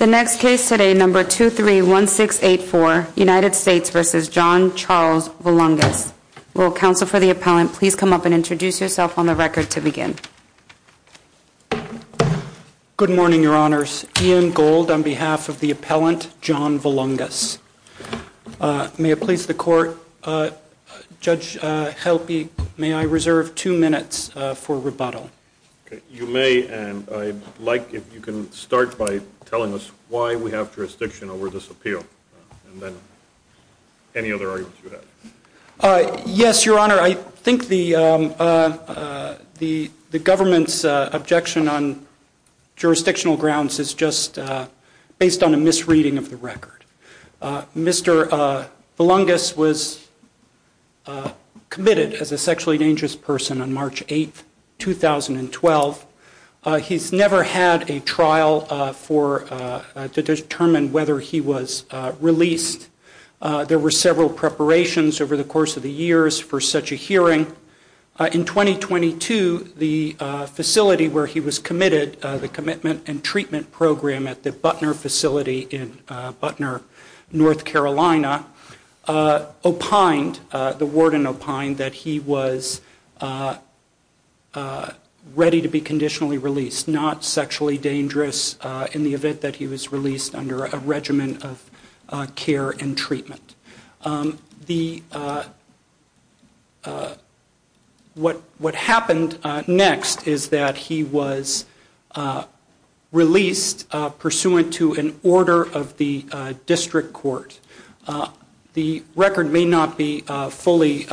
The next case today, number 231684, United States v. John Charles Volungus. Will counsel for the appellant please come up and introduce yourself on the record to begin. Good morning, your honors. Ian Gold on behalf of the appellant, John Volungus. May it please the court, Judge Helpe, may I reserve two minutes for rebuttal? You may, and I'd like if you can start by telling us why we have jurisdiction over this appeal, and then any other arguments you have. Yes, your honor. I think the government's objection on jurisdictional grounds is just based on a misreading of the record. Mr. Volungus was committed as a sexually dangerous person on March 8th, 2012. He's never had a trial to determine whether he was released. There were several preparations over the course of the years for such a hearing. In 2022, the facility where he was committed, the commitment and treatment program at the Butner facility in Butner, North Carolina, opined, the warden opined, that he was a sexually dangerous person. Not ready to be conditionally released. Not sexually dangerous in the event that he was released under a regimen of care and treatment. What happened next is that he was released pursuant to an order of the district court. The record may not be fully,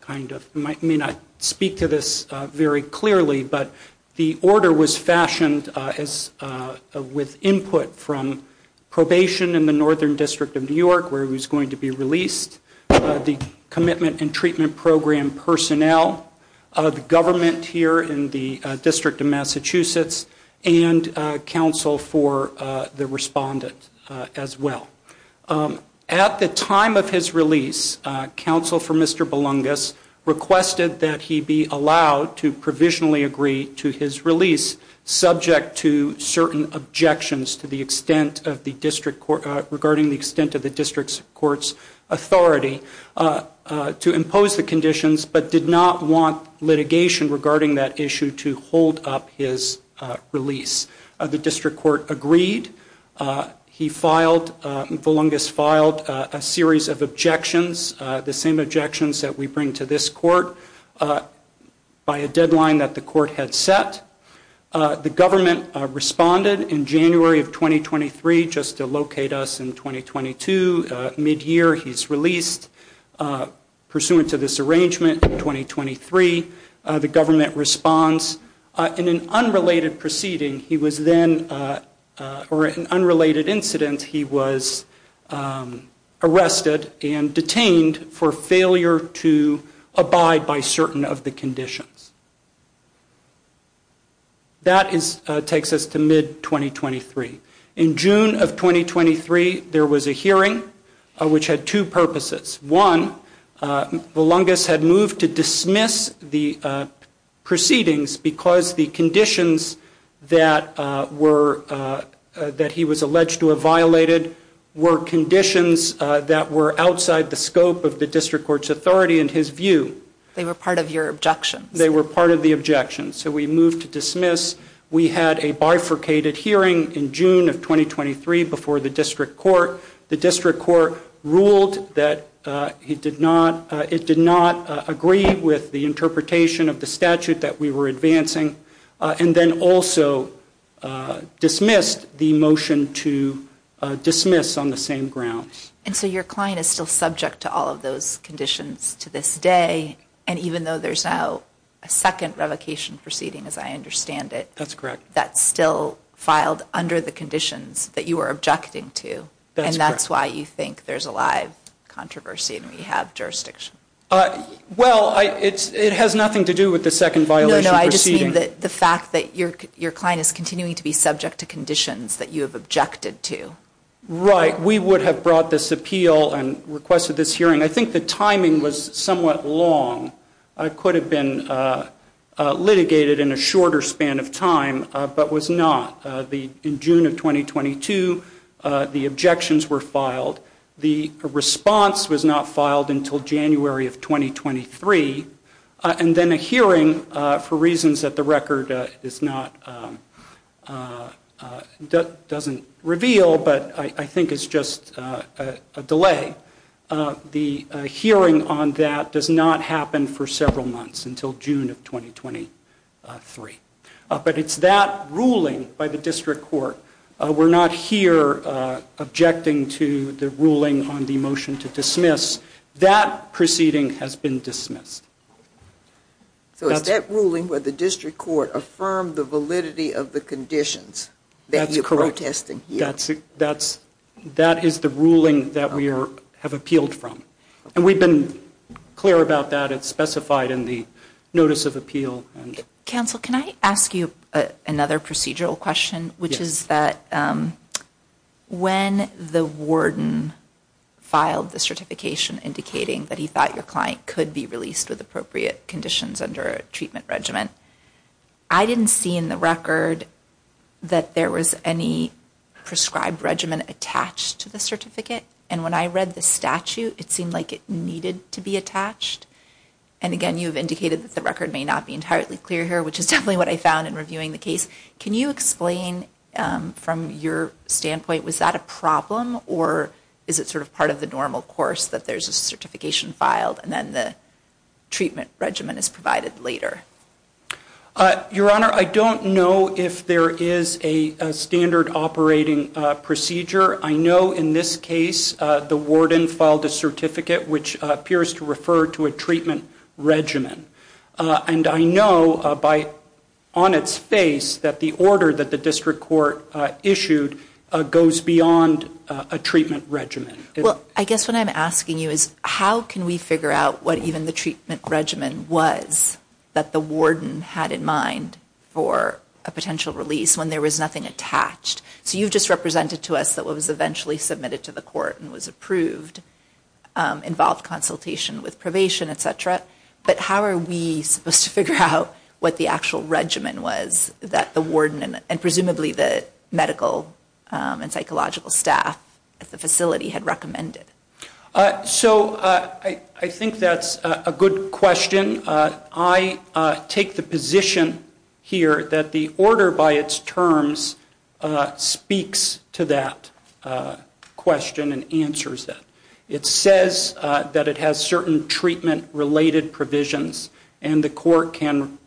kind of, may not speak to this very clearly, but the order was fashioned with input from probation in the Northern District of New York, where he was going to be released, the commitment and treatment program personnel, the government here in the District of Massachusetts, and counsel for the respondent as well. At the time of his release, counsel for Mr. Belungus requested that he be allowed to provisionally agree to his release, subject to certain objections to the extent of the district court, regarding the extent of the district court's authority, to impose the conditions, but did not want litigation regarding that issue to hold up his release. The district court agreed. He filed, Belungus filed, a series of objections, the same objections that we bring to this court, by a deadline that the court had set. The government responded in January of 2023, just to locate us in 2022, mid-year, he's released pursuant to this arrangement in 2023. The government responds. In an unrelated proceeding, he was then, or in an unrelated incident, he was arrested and detained for failure to abide by certain of the conditions. That takes us to mid-2023. In June of 2023, there was a hearing, which had two purposes. One, Belungus had moved to dismiss the proceedings, because the conditions that he was alleged to have violated were conditions that were outside the scope of the district court's authority and his view. They were part of your objections. They were part of the objections, so we moved to dismiss. We had a bifurcated hearing in June of 2023, before the district court. The district court ruled that it did not, it did not agree with the interpretation of the statute that we were advancing, and then also dismissed the motion to dismiss on the same grounds. And so your client is still subject to all of those conditions to this day, and even though there's now a second revocation proceeding, as I understand it, that's still filed under the conditions that you were objecting to, and that's why you think there's a live controversy and we have jurisdiction. Well, it has nothing to do with the second violation proceeding. No, no, I just mean the fact that your client is continuing to be subject to conditions that you have objected to. Right. We would have brought this appeal and requested this hearing. I think the timing was somewhat long. It could have been litigated in a shorter span of time, but was not. In fact, it was not filed until January of 2023, and then a hearing for reasons that the record is not, doesn't reveal, but I think it's just a delay. The hearing on that does not happen for several months, until June of 2023. But it's that ruling by the district court. We're not here objecting to the ruling on the motion to dismiss. That proceeding has been dismissed. So it's that ruling where the district court affirmed the validity of the conditions that you're protesting here? That's correct. That is the ruling that we have appealed from. And we've been clear about that. It's specified in the notice of appeal. Counsel, can I ask you another procedural question, which is that when the warden filed the certification indicating that he thought your client could be released with appropriate conditions under a treatment regimen, I didn't see in the record that there was any prescribed regimen attached to the certificate. And when I read the statute, it seemed like it needed to be attached. And again, you've indicated that the record may not be entirely clear here, which is definitely what I found in reviewing the case. Can you explain from your standpoint, was that a problem, or is it sort of part of the normal course that there's a certification filed and then the treatment regimen is provided later? Your Honor, I don't know if there is a standard operating procedure. I know in this case, the warden filed a certificate which appears to refer to a treatment regimen. And I know on its face that the order that the district court issued goes beyond a treatment regimen. Well, I guess what I'm asking you is, how can we figure out what even the treatment regimen was that the warden had in mind for a potential release when there was nothing attached? So you've just represented to us that what was eventually submitted to the court and was approved involved consultation with probation, et cetera. But how are we supposed to figure out what the actual regimen was that the warden and presumably the medical and psychological staff at the facility had recommended? So I think that's a good question. I take the position here that the order by its terms speaks to that question and answers that. It says that it has certain treatment-related provisions and the court can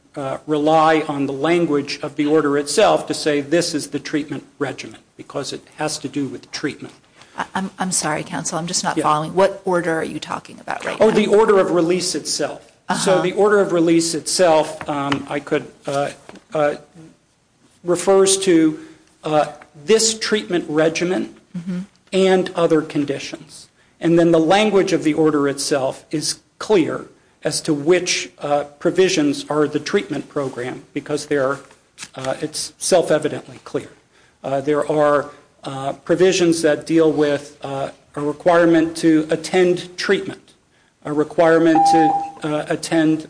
rely on the language of the order itself to say this is the treatment regimen, because it has to do with treatment. I'm sorry, counsel. I'm just not following. What order are you talking about right now? The order of release itself. So the order of release itself, I could, refers to the this treatment regimen and other conditions. And then the language of the order itself is clear as to which provisions are the treatment program, because it's self-evidently clear. There are provisions that deal with a requirement to attend treatment, a requirement to attend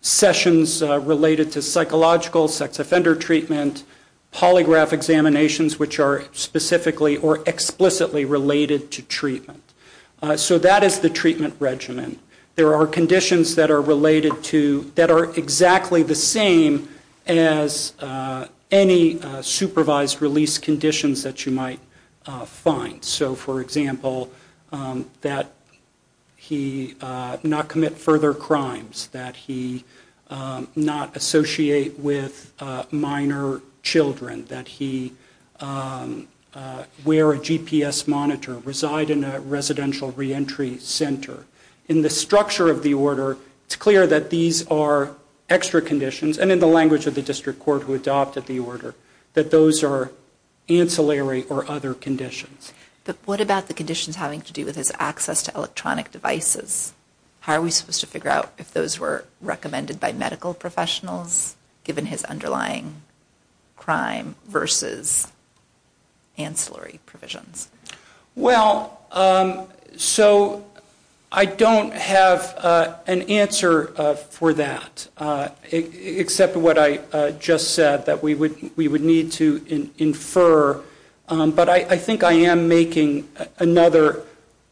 sessions related to psychological sex offender treatment, polygraph examinations, which are specifically or explicitly related to treatment. So that is the treatment regimen. There are conditions that are related to, that are exactly the same as any supervised release conditions that you might find. So, for example, that he not commit further crimes, that he not associate with minor children, that he wear a GPS monitor, reside in a residential reentry center. In the structure of the order, it's clear that these are extra conditions and in the language of the district court who adopted the order, that those are ancillary or other conditions. But what about the conditions having to do with his access to electronic devices? How are we supposed to figure out if those were recommended by medical professionals given his underlying crime versus ancillary provisions? Well, so I don't have an answer for that, except what I just said, that we would need to infer. But I think I am making another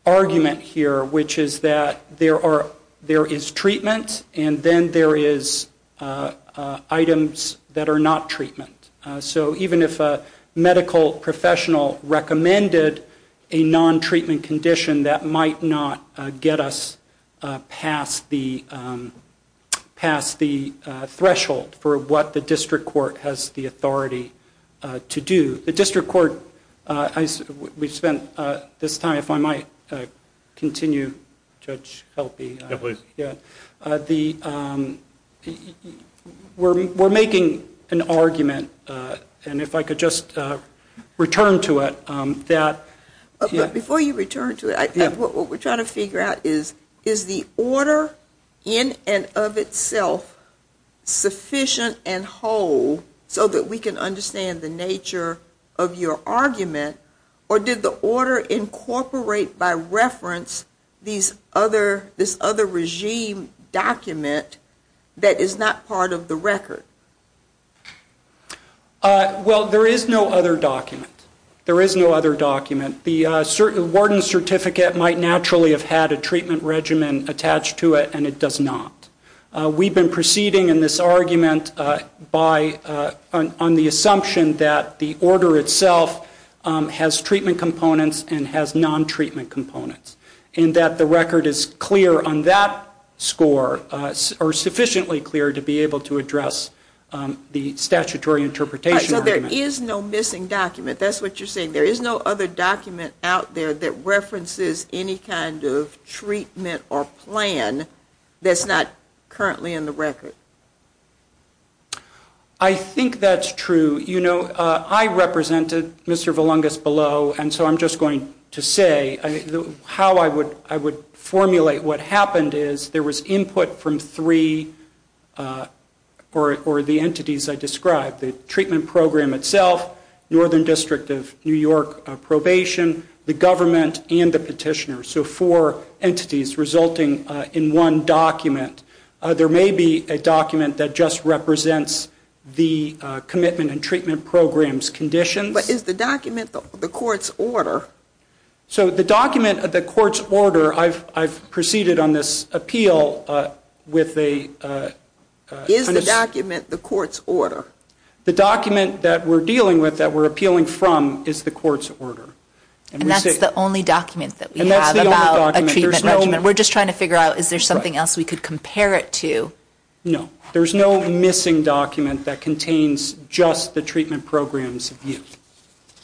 argument here, which is that there is treatment and then there is items that are not treatment. So even if a medical professional recommended a non-treatment condition, that might not get us past the threshold for what the district court has the authority to do. The district court, we spent this time, if I might continue, Judge Helpe. We are making an argument, and if I could just return to it. Before you return to it, what we are trying to figure out is, is the order in and of itself sufficient and whole so that we can understand the nature of your argument, or did the order incorporate by reference this other regime document that is not part of the record? Well, there is no other document. There is no other document. The warden's certificate might naturally have had a treatment regimen attached to it, and it does not. We have been proceeding in this argument on the assumption that the order itself has treatment components and has non-treatment components, and that the record is clear on that score, or sufficiently clear to be able to address the statutory interpretation argument. So there is no missing document. That is what you are saying. There is no other document out there that references any kind of treatment or plan that is not currently in the record. I think that is true. You know, I represented Mr. Valungas below, and so I am just going to say how I would formulate what happened is there was input from three, or the entities I described, the treatment program itself, Northern District of New York probation, the government, and the petitioner, so four entities resulting in one document. There may be a document that just represents the commitment and treatment program's conditions. But is the document the court's order? So the document of the court's order, I have proceeded on this appeal with a... Is the document the court's order? The document that we are dealing with, that we are appealing from, is the court's order. And that is the only document that we have about a treatment regimen. We are just trying to figure out is there something else we could compare it to? No. There is no missing document that contains just the treatment program's view.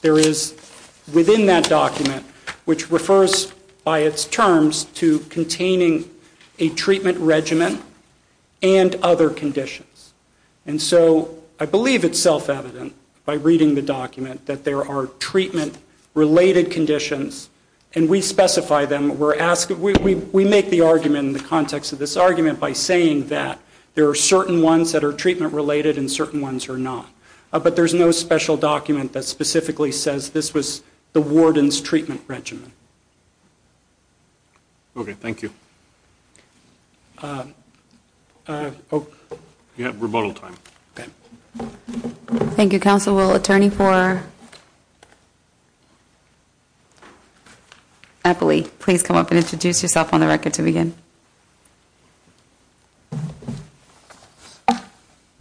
There is within that document, which refers by its terms to containing a treatment regimen and other conditions. And so I believe it is self-evident by reading the document that there are treatment related conditions, and we specify them. We make the argument in the context of this document by saying that there are certain ones that are treatment related and certain ones are not. But there is no special document that specifically says this was the warden's treatment regimen. Okay. Thank you. You have rebuttal time. Thank you, Counsel. Will Attorney for Eppley please come up and introduce yourself on the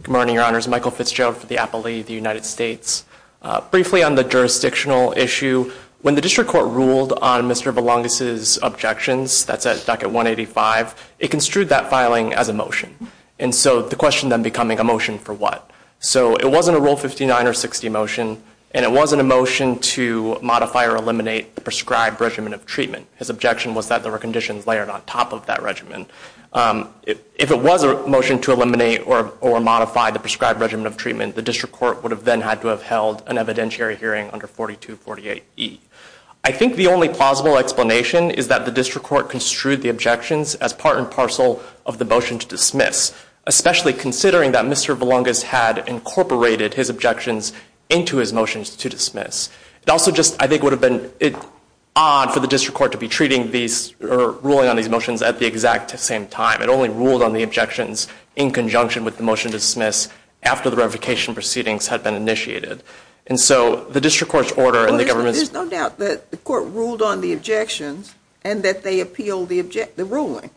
Good morning, Your Honors. Michael Fitzgerald for the Appellee of the United States. Briefly on the jurisdictional issue, when the district court ruled on Mr. Valangas' objections, that's at docket 185, it construed that filing as a motion. And so the question then becoming a motion for what? So it wasn't a Rule 59 or 60 motion, and it wasn't a motion to modify or eliminate the prescribed regimen of treatment. His objection was that there were conditions layered on top of that regimen. If it was a motion to eliminate or modify the prescribed regimen of treatment, the district court would have then had to have held an evidentiary hearing under 4248E. I think the only plausible explanation is that the district court construed the objections as part and parcel of the motion to dismiss, especially considering that Mr. Valangas had incorporated his objections into his motions to dismiss. It also just, I think, would have been odd for the district court to be treating these, or ruling on these motions at the exact same time. It only ruled on the objections in conjunction with the motion to dismiss after the revocation proceedings had been initiated. And so the district court's order and the government's There's no doubt that the court ruled on the objections and that they appealed the ruling.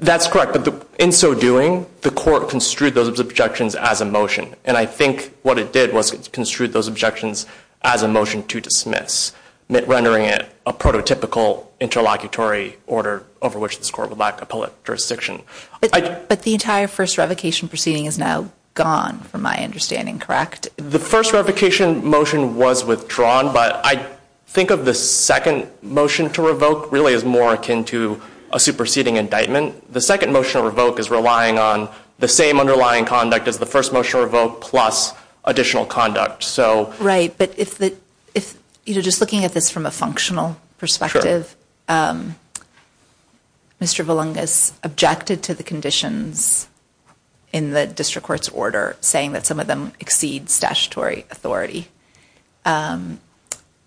That's correct, but in so doing, the court construed those objections as a motion. And I think what it did was it construed those objections as a motion to dismiss, rendering it a prototypical interlocutory order over which this court would lack a public jurisdiction. But the entire first revocation proceeding is now gone from my understanding, correct? The first revocation motion was withdrawn, but I think of the second motion to revoke really as more akin to a superseding indictment. The second motion to revoke is relying on the same underlying conduct as the first motion to revoke plus additional conduct. Right, but if the, if, you know, just looking at this from a functional perspective, Mr. Valungas objected to the conditions in the district court's order, saying that some of them exceed statutory authority,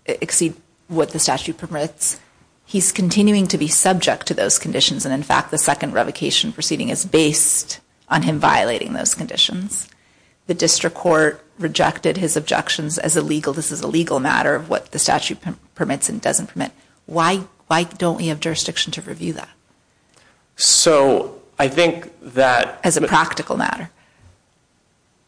exceed what the statute permits. He's continuing to be subject to those conditions, and in fact, the second revocation proceeding is based on him violating those conditions. The district court rejected his objections as a legal, this is a legal matter of what the statute permits and doesn't permit. Why, why don't we have jurisdiction to review that? So, I think that... As a practical matter.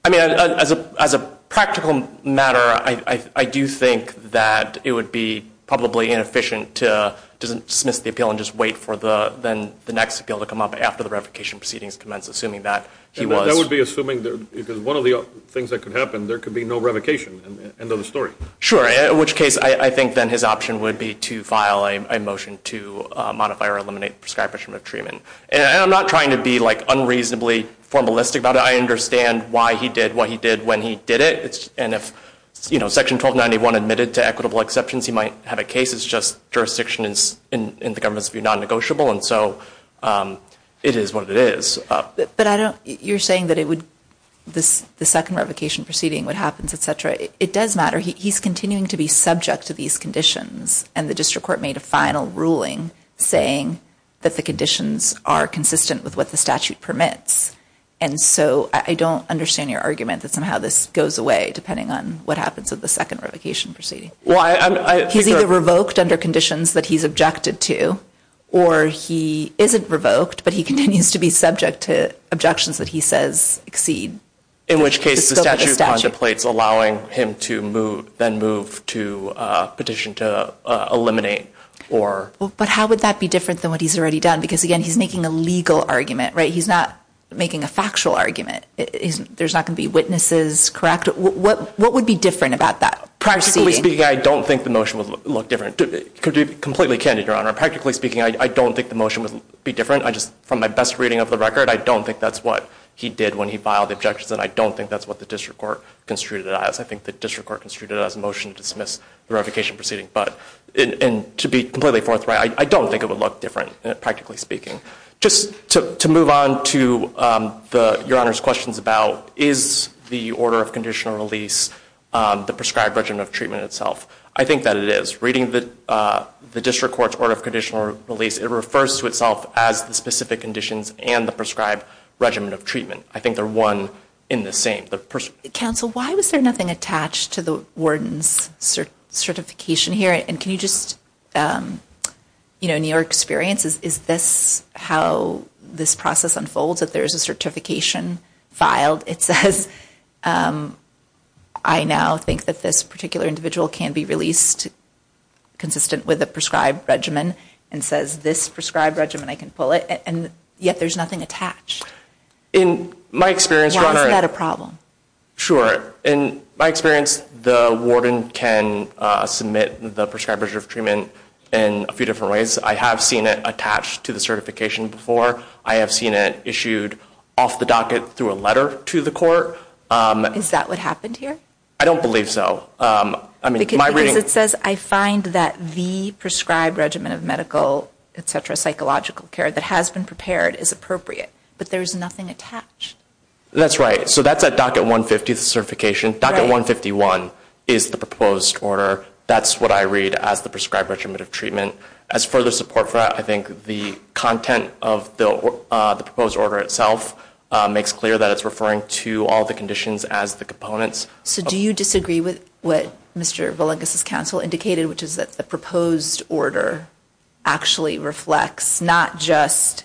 I mean, as a, as a practical matter, I, I, I do think that it would be probably inefficient to dismiss the appeal and just wait for the, then the next appeal to come up after the revocation proceedings commence, assuming that he was... And that would be assuming that, because one of the things that could happen, there could be no revocation. End of the story. Sure, in which case, I, I think then his option would be to file a motion to modify or eliminate prescribation of treatment. And I'm not trying to be like unreasonably formalistic about it. I understand why he did what he did when he did it. And if, you know, section 1291 admitted to equitable exceptions, he might have a case. It's just jurisdiction is, in, in the government's view, non-negotiable. And so, it is what it is. But I don't, you're saying that it would, this, the second revocation proceeding, what happens, et cetera, it, it does matter. He, he's continuing to be subject to these conditions. And the district court made a final ruling saying that the conditions are consistent with what the statute permits. And so, I, I don't understand your argument that somehow this goes away, depending on what happens with the second revocation proceeding. Well, I, I, I think that... But how would that be different than what he's already done? Because, again, he's making a legal argument, right? He's not making a factual argument. It isn't, there's not going to be witnesses, correct? What, what, what would be different about that proceeding? Practically speaking, I don't think the motion would look different. To be completely candid, Your Honor, practically speaking, I, I don't think the motion would be different. I just, from my best reading of the record, I don't think that's what he did when he filed the objections and I don't think that's what the district court construed it as. I think the district court construed it as a motion to dismiss the revocation proceeding. But, and, to be completely forthright, I, I don't think it would look different, practically speaking. Just to, to move on to, um, the, Your Honor's questions about, is the order of conditional release, um, the prescribed regimen of treatment itself? I think that it is. Reading the, uh, the district court's order of conditional release, it refers to itself as the specific conditions and the prescribed regimen of treatment. I think they're one in the same. The person Counsel, why was there nothing attached to the warden's cert, certification here? And can you just, um, you know, in your experience, is, is this how this process unfolds? If there's a certification filed, it says, um, I now think that this particular individual can be released consistent with the prescribed regimen and says this prescribed regimen, I can pull it, and yet there's nothing attached. In my experience, Your Honor. Why is that a problem? Sure. In my experience, the warden can, uh, submit the prescribed regimen in a few different ways. I have seen it attached to the certification before. I have seen it issued off the docket through a letter to the court. Um. Is that what happened here? I don't believe so. Um, I mean, my reading. Because it says, I find that the prescribed regimen of medical, et cetera, psychological care that has been prepared is appropriate, but there's nothing attached. That's right. So that's at docket 150, the certification. Right. Docket 151 is the proposed order. That's what I read as the prescribed regimen of treatment. As further support for that, I think the content of the, uh, the proposed order itself, uh, makes clear that it's referring to all the conditions as the components. So do you disagree with what Mr. Villegas' counsel indicated, which is that the proposed order actually reflects not just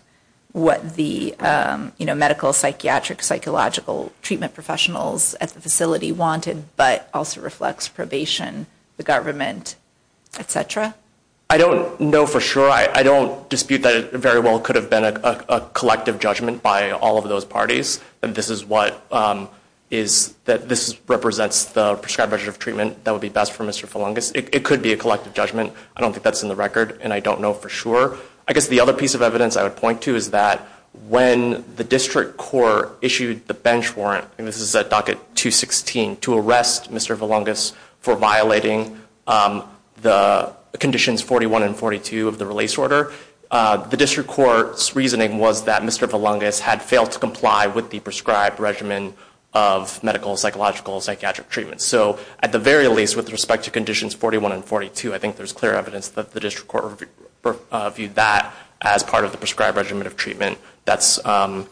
what the, um, you know, medical, psychiatric, psychological treatment professionals at the facility wanted, but also reflects probation, the government, et cetera? I don't know for sure. I don't dispute that it very well could have been a collective judgment by all of those parties. And this is what, um, is that this represents the prescribed regimen of treatment that would be best for Mr. Villegas. It could be a collective judgment. I don't think that's in the record and I don't know for sure. I guess the other piece of evidence I would point to is that when the district court issued the bench warrant, and this is at docket 216, to arrest Mr. Villegas for violating, um, the conditions 41 and 42 of the release order, uh, the district court's reasoning was that Mr. Villegas had failed to comply with the prescribed regimen of medical, psychological, psychiatric treatment. So at the very least, with respect to conditions 41 and 42, I think there's clear evidence that the district court reviewed that as part of the prescribed regimen of treatment. That's, um,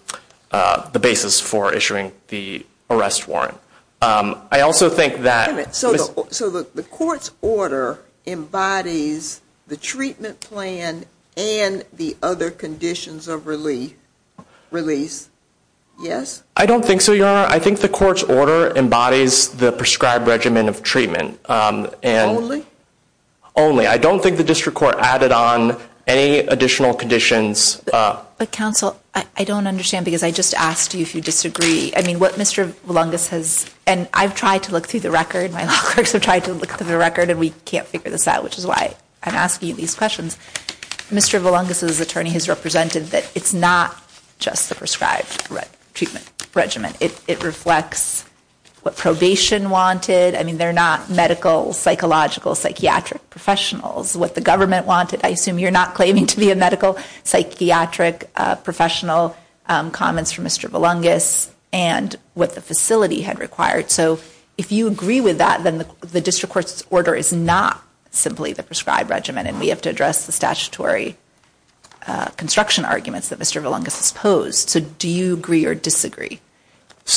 uh, the basis for issuing the arrest warrant. Um, I also think that... So, so the court's order embodies the treatment plan and the other conditions of relief, release. Yes? I don't think so, Your Honor. I think the court's order embodies the prescribed regimen of treatment, um, and... Only. I don't think the district court added on any additional conditions, uh... But counsel, I, I don't understand, because I just asked you if you disagree. I mean, what Mr. Villegas has... And I've tried to look through the record. My law clerks have tried to look through the record, and we can't figure this out, which is why I'm asking you these questions. Mr. Villegas's attorney has represented that it's not just the prescribed treatment regimen. It, it reflects what probation wanted. I mean, they're not medical, psychological, psychiatric professionals. What the government wanted, I assume you're not claiming to be a professional, um, comments from Mr. Villegas, and what the facility had required. So, if you agree with that, then the, the district court's order is not simply the prescribed regimen, and we have to address the statutory, uh, construction arguments that Mr. Villegas has posed. So, do you agree or disagree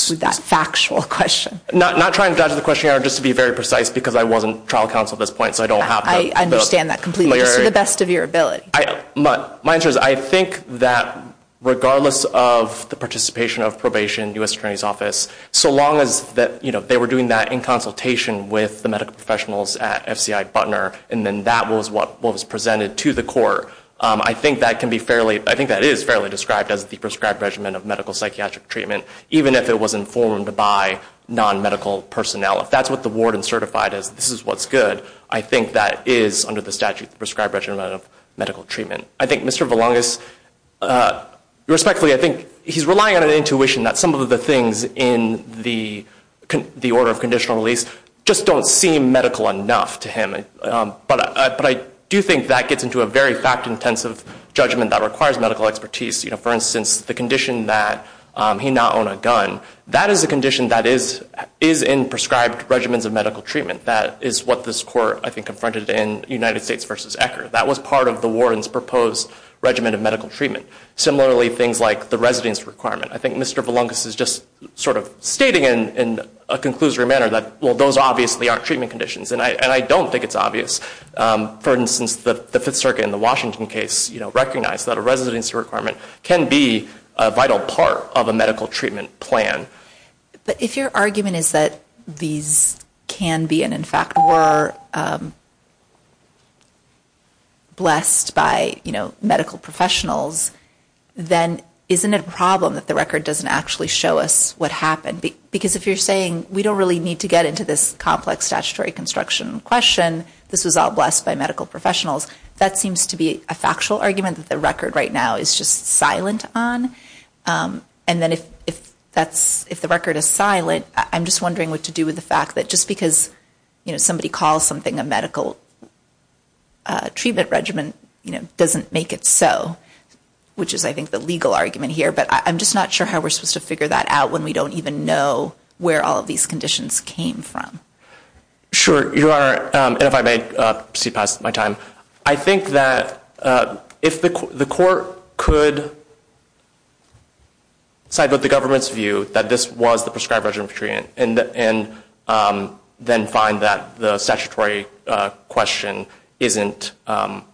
with that factual question? Not, not trying to dodge the question, Your Honor, just to be very precise, because I wasn't trial counsel at this point, so I don't have the... I, I understand that completely, just to the best of your ability. I, my, my answer is I think that regardless of the participation of probation, U.S. Attorney's Office, so long as that, you know, they were doing that in consultation with the medical professionals at FCI Butner, and then that was what was presented to the court, um, I think that can be fairly, I think that is fairly described as the prescribed regimen of medical psychiatric treatment, even if it was informed by non-medical personnel. If that's what the ward and certified as this is what's good, I think that is under the statute prescribed regimen of medical treatment. I think Mr. Villegas, uh, respectfully, I think he's relying on an intuition that some of the things in the, the order of conditional release just don't seem medical enough to him, um, but I, but I do think that gets into a very fact-intensive judgment that requires medical expertise. You know, for instance, the condition that, um, he not own a gun, that is a condition that is, is in prescribed regimens of medical treatment. That is what this court, I think, confronted in United States v. Ecker. That was part of the warden's proposed regimen of medical treatment. Similarly, things like the residence requirement. I think Mr. Villegas is just sort of stating in, in a conclusory manner that, well, those obviously aren't treatment conditions, and I, and I don't think it's obvious. Um, for instance, the, the Fifth Circuit in the Washington case, you know, recognized that a residency requirement can be a vital part of a medical treatment plan. But if your argument is that these can be, and in fact were, um, blessed by, you know, medical professionals, then isn't it a problem that the record doesn't actually show us what happened? Because if you're saying we don't really need to get into this complex statutory construction question, this was all blessed by medical professionals, that seems to be a factual argument that the record right now is just silent on. Um, and then if, if that's, if the record is silent, I'm just wondering what to do with the fact that just because, you know, somebody calls something a medical, uh, treatment regimen, you know, doesn't make it so. Which is, I think, the legal argument here. But I, I'm just not sure how we're supposed to figure that out when we don't even know where all of these conditions came from. Sure. Your Honor, um, and if I may, uh, proceed past my time. I think that, uh, if the, the court could side with the government's view that this was the prescribed regimen of treatment and, and, um, then find that the statutory, uh, question isn't, um,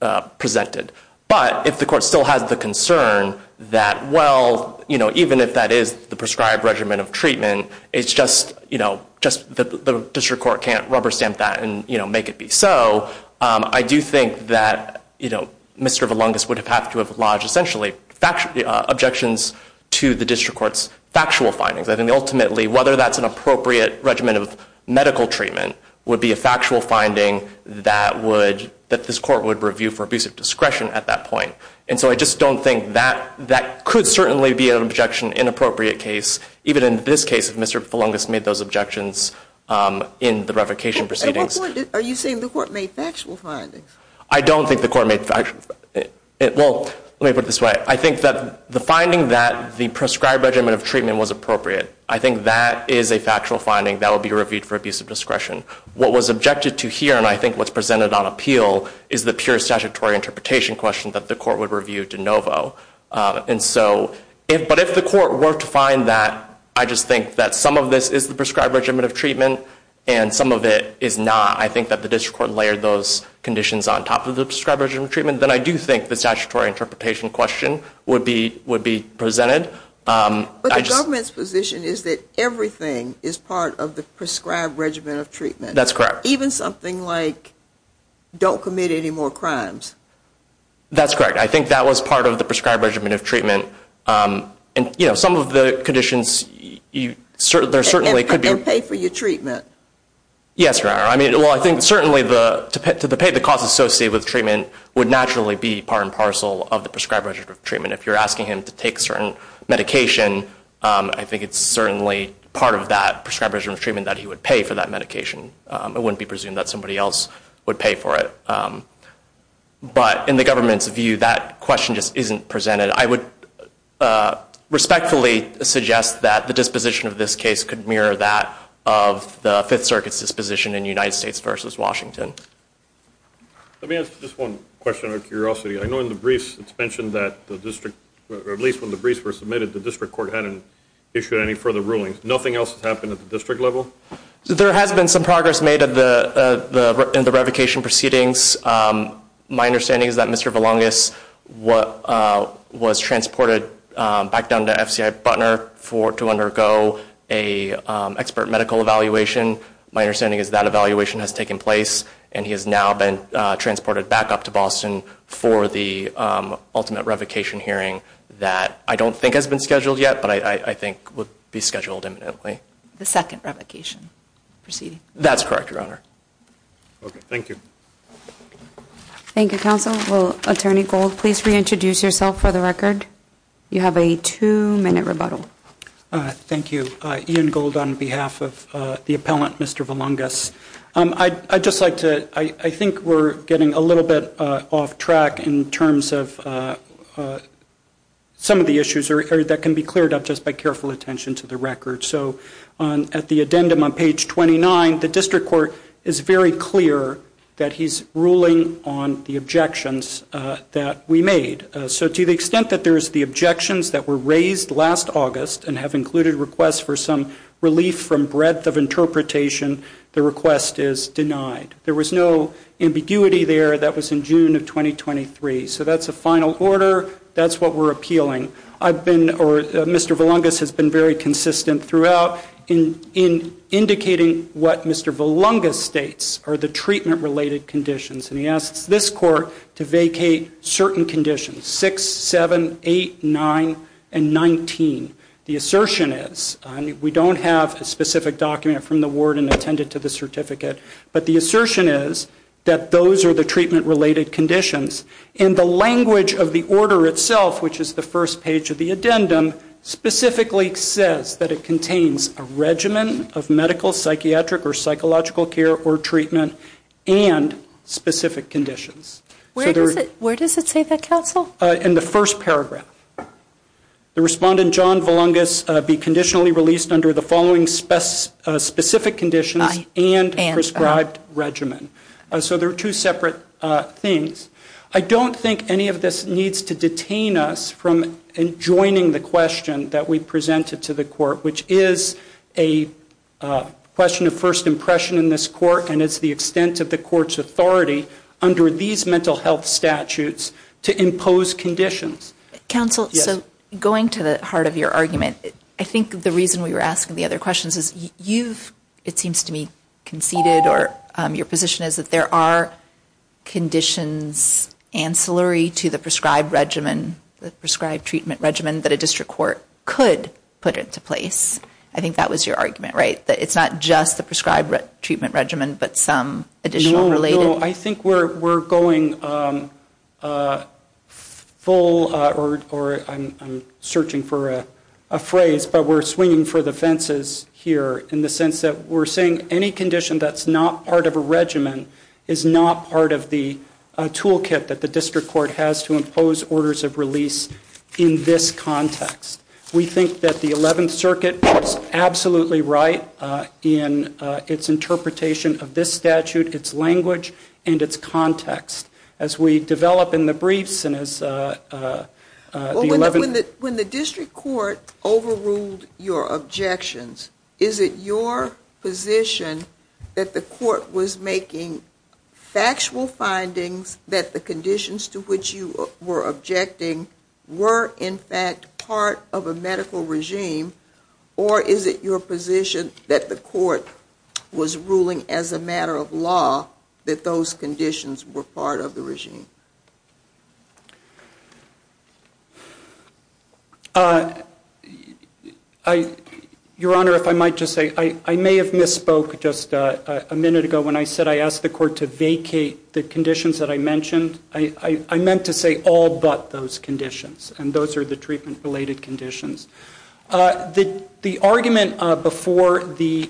uh, presented. But if the court still has the concern that, well, you know, even if that is the prescribed regimen of treatment, it's just, you know, just the, the district court can't rubber stamp that and, you know, make it be. So, um, I do think that, you know, Mr. Valungas would have had to have lodged essentially fact, uh, objections to the district court's factual findings. I think ultimately, whether that's an appropriate regimen of medical treatment would be a factual finding that would, that this court would review for abusive discretion at that point. And so I just don't think that, that could certainly be an objection in appropriate case, even in this case, if Mr. Valungas made those objections, um, in the revocation proceedings. At what point, are you saying the court made factual findings? I don't think the court made factual, well, let me put it this way. I think that the finding that the prescribed regimen of treatment was appropriate, I think that is a factual finding that will be reviewed for abusive discretion. What was objected to here, and I think what's presented on appeal, is the pure statutory interpretation question that the court would review de novo. And so, but if the court were to find that, I just think that some of this is the prescribed regimen of treatment, and some of it is not. I think that the district court layered those conditions on top of the prescribed regimen of treatment, then I do think the statutory interpretation question would be, would be presented. But the government's position is that everything is part of the prescribed regimen of treatment. That's correct. Even something like, don't commit any more crimes. That's correct. I think that was part of the prescribed regimen of treatment. Um, and you know, some of the conditions, you certainly, there certainly could be. And pay for your treatment. Yes, Your Honor. I mean, well, I think certainly the, to pay the cost associated with treatment would naturally be part and parcel of the prescribed regimen of treatment. If you're asking him to take certain medication, um, I think it's certainly part of that prescribed regimen of treatment that he would pay for that medication. Um, it wouldn't be presumed that somebody else would pay for it. Um, but in the government's view, that question just isn't presented. I would, uh, respectfully suggest that the disposition of this case could mirror that of the Fifth Circuit's disposition in United States versus Washington. Let me ask just one question out of curiosity. I know in the briefs it's mentioned that the district, or at least when the briefs were submitted, the district court hadn't issued any further rulings. Nothing else happened at the district level? There has been some progress made at the, uh, the, in the revocation proceedings. Um, my understanding is that Mr. Valangas, what, uh, was transported, um, back down to FCI Butner for, to undergo a, um, expert medical evaluation. My understanding is that evaluation has taken place and he has now been, uh, transported back up to Boston for the, um, ultimate revocation hearing that I don't think has been scheduled yet, but I, I think would be scheduled imminently. The second revocation proceeding? That's correct, Your Honor. Okay, thank you. Thank you, counsel. Will Attorney Gold please reintroduce yourself for the record? You have a two-minute rebuttal. Uh, thank you. Uh, Ian Gold on behalf of, uh, the appellant, Mr. Valangas. Um, I, I'd just like to, I, I think we're getting a little bit, uh, off track in terms of, uh, uh, some of the issues are, that can be cleared up just by careful attention to the record. So, on, at the addendum on page 29, the district court is very clear that he's ruling on the objections, uh, that we made. So to the extent that there's the objections that were raised last August and have included requests for some relief from breadth of interpretation, the request is denied. There was no ambiguity there that was in June of 2023. So that's a final order. That's what we're appealing. I've been, or, Mr. Valangas has been very consistent throughout in, in indicating what Mr. Valangas states are the treatment-related conditions. And he asks this court to vacate certain conditions, 6, 7, 8, 9, and 19. The assertion is, I mean, we don't have a specific document from the ward and attended to the certificate, but the assertion is that those are the treatment-related conditions. And the language of the order itself, which is the first page of the addendum, specifically says that it contains a regimen of medical, psychiatric, or psychological care or treatment and specific conditions. So there is... Where does it, where does it say that, in the first paragraph? The respondent, John Valangas, be conditionally released under the following specific conditions and prescribed regimen. So there are two separate things. I don't think any of this needs to detain us from joining the question that we presented to the court, which is a question of first impression in this court, and it's the extent of the court's under these mental health statutes to impose conditions. Counsel, so going to the heart of your argument, I think the reason we were asking the other questions is you've, it seems to me, conceded or your position is that there are conditions ancillary to the prescribed regimen, the prescribed treatment regimen that a district court could put into place. I think that was your argument, right? That it's not just the prescribed treatment regimen, but some additional related... No, no. I think we're going full, or I'm searching for a phrase, but we're swinging for the fences here in the sense that we're saying any condition that's not part of a regimen is not part of the toolkit that the district court has to impose orders of release in this context. We think that the 11th Circuit was absolutely right in its interpretation of this statute, its language, and its context. As we develop in the briefs and as the 11th... When the district court overruled your objections, is it your position that the court was making factual findings that the conditions to which you were objecting were, in fact, part of a medical regime, or is it your position that the court was ruling as a matter of law that those conditions were part of the regime? Your Honor, if I might just say, I may have misspoke just a minute ago when I said I asked the court to vacate the conditions that I mentioned. I meant to say all but those conditions, and those are the treatment-related conditions. The argument before the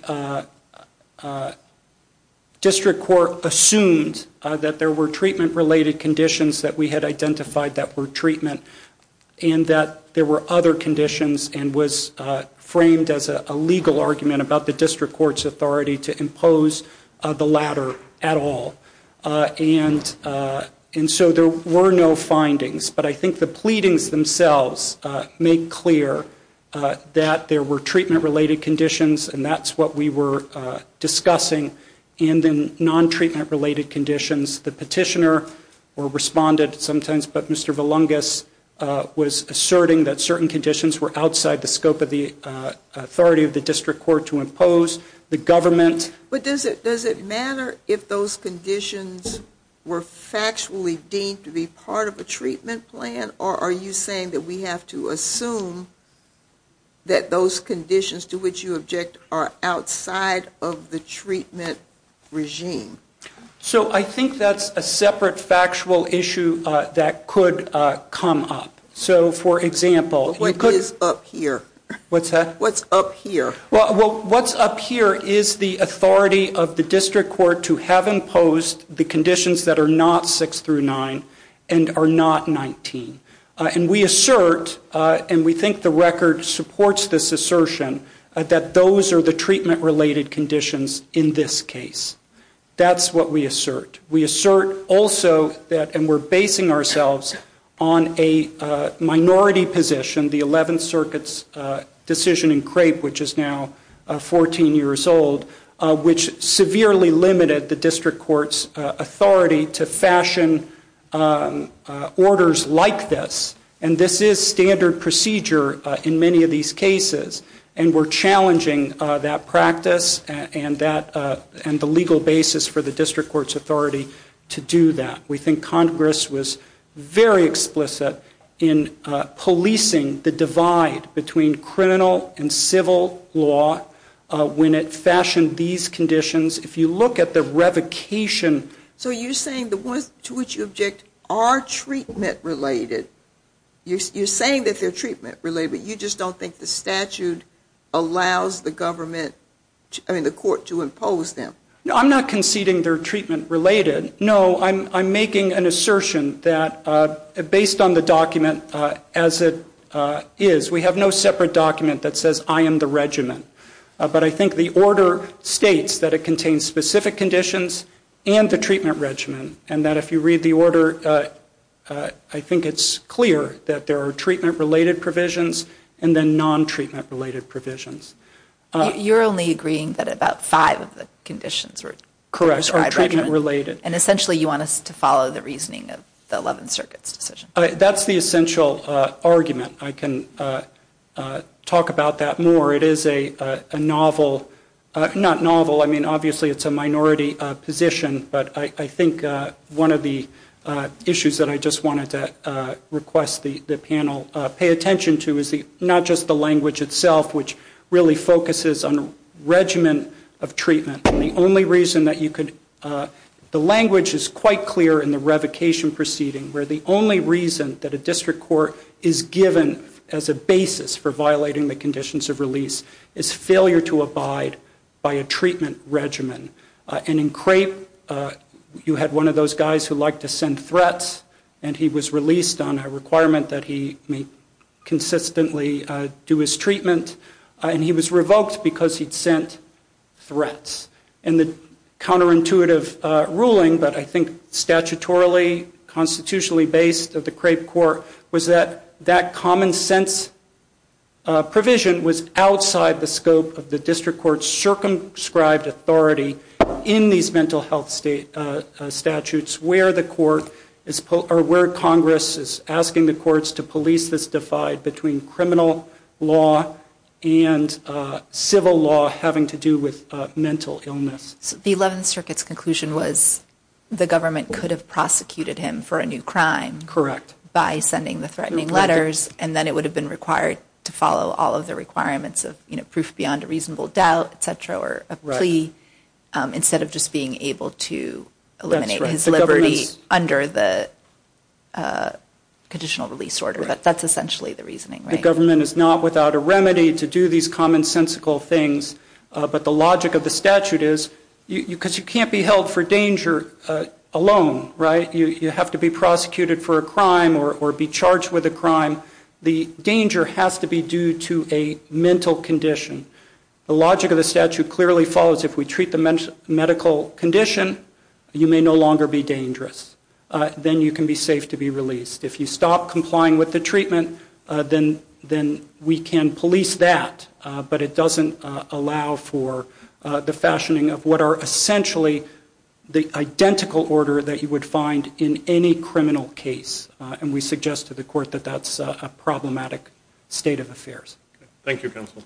district court assumed that there were treatment-related conditions that we had identified that were treatment, and that there were other conditions, and was framed as a legal argument about the district court's authority to impose the latter at all. And so there were no findings, but I think the pleadings themselves make clear that there were treatment-related conditions, and that's what we were discussing, and then non-treatment-related conditions. The petitioner responded sometimes, but Mr. Valungas was asserting that certain conditions were outside the scope of the authority of the district court to impose. The government... But does it matter if those conditions were factually deemed to be part of a treatment plan, or are you saying that we have to assume that those conditions to which you object are outside of the treatment regime? So I think that's a separate factual issue that could come up. So for example... What is up here? What's up here? Well, what's up here is the authority of the And we assert, and we think the record supports this assertion, that those are the treatment-related conditions in this case. That's what we assert. We assert also that, and we're basing ourselves on a minority position, the 11th Circuit's decision in Crape, which is now 14 years old, which severely limited the district court's authority to fashion orders like this. And this is standard procedure in many of these cases, and we're challenging that practice and the legal basis for the district court's authority to do that. We think Congress was very explicit in policing the divide between criminal and civil law when it fashioned these conditions. If you look at the revocation... So you're saying the ones to which you object are treatment-related. You're saying that they're treatment-related, but you just don't think the statute allows the government, I mean the court, to impose them. No, I'm not conceding they're treatment-related. No, I'm making an assertion that, based on the document as it is, we have no separate document that says, I am the regimen. But I think the order states that it contains specific conditions and the treatment regimen, and that if you read the order, I think it's clear that there are treatment-related provisions and then non-treatment-related provisions. You're only agreeing that about five of the conditions are treatment-related, and essentially you want us to follow the reasoning of the Eleventh Circuit's decision. That's the essential argument. I can talk about that more. It is a novel, not novel, I mean obviously it's a minority position, but I think one of the issues that I just wanted to request the panel pay attention to is not just the language itself, which really focuses on a regimen of treatment. The only reason that you could, the language is quite clear in the revocation proceeding, where the only reason that a district court is given as a basis for violating the conditions of release is failure to abide by a treatment regimen. And in Crape, you had one of those guys who liked to send threats, and he was released on a requirement that he may consistently do his treatment, and he was revoked because he'd sent threats. And the counterintuitive ruling, but I think statutorily, constitutionally based of the Crape court, was that that common sense provision was outside the scope of the district court's circumscribed authority in these mental health statutes where the court, or where Congress is asking the courts to police this divide between criminal law and civil law having to do with mental illness. The Eleventh Circuit's conclusion was the government could have prosecuted him for a new crime. Correct. By sending the threatening letters, and then it would have been required to follow all of the requirements of proof beyond a reasonable doubt, etc., or a plea, instead of just being able to eliminate his liberty under the conditional release order. That's essentially the reasoning. The government is not without a remedy to do these commonsensical things, but the logic of the statute is, because you can't be held for danger alone, right? You have to be prosecuted for a crime or be charged with a crime. The danger has to be due to a mental condition. The logic of the statute clearly follows if we treat the medical condition, you may no longer be dangerous. Then you can be safe to be released. If you stop complying with the treatment, then we can police that, but it doesn't allow for the fashioning of what are essentially the identical order that you would find in any criminal case, and we suggest to the court that that's a problematic state of affairs. Thank you, counsel.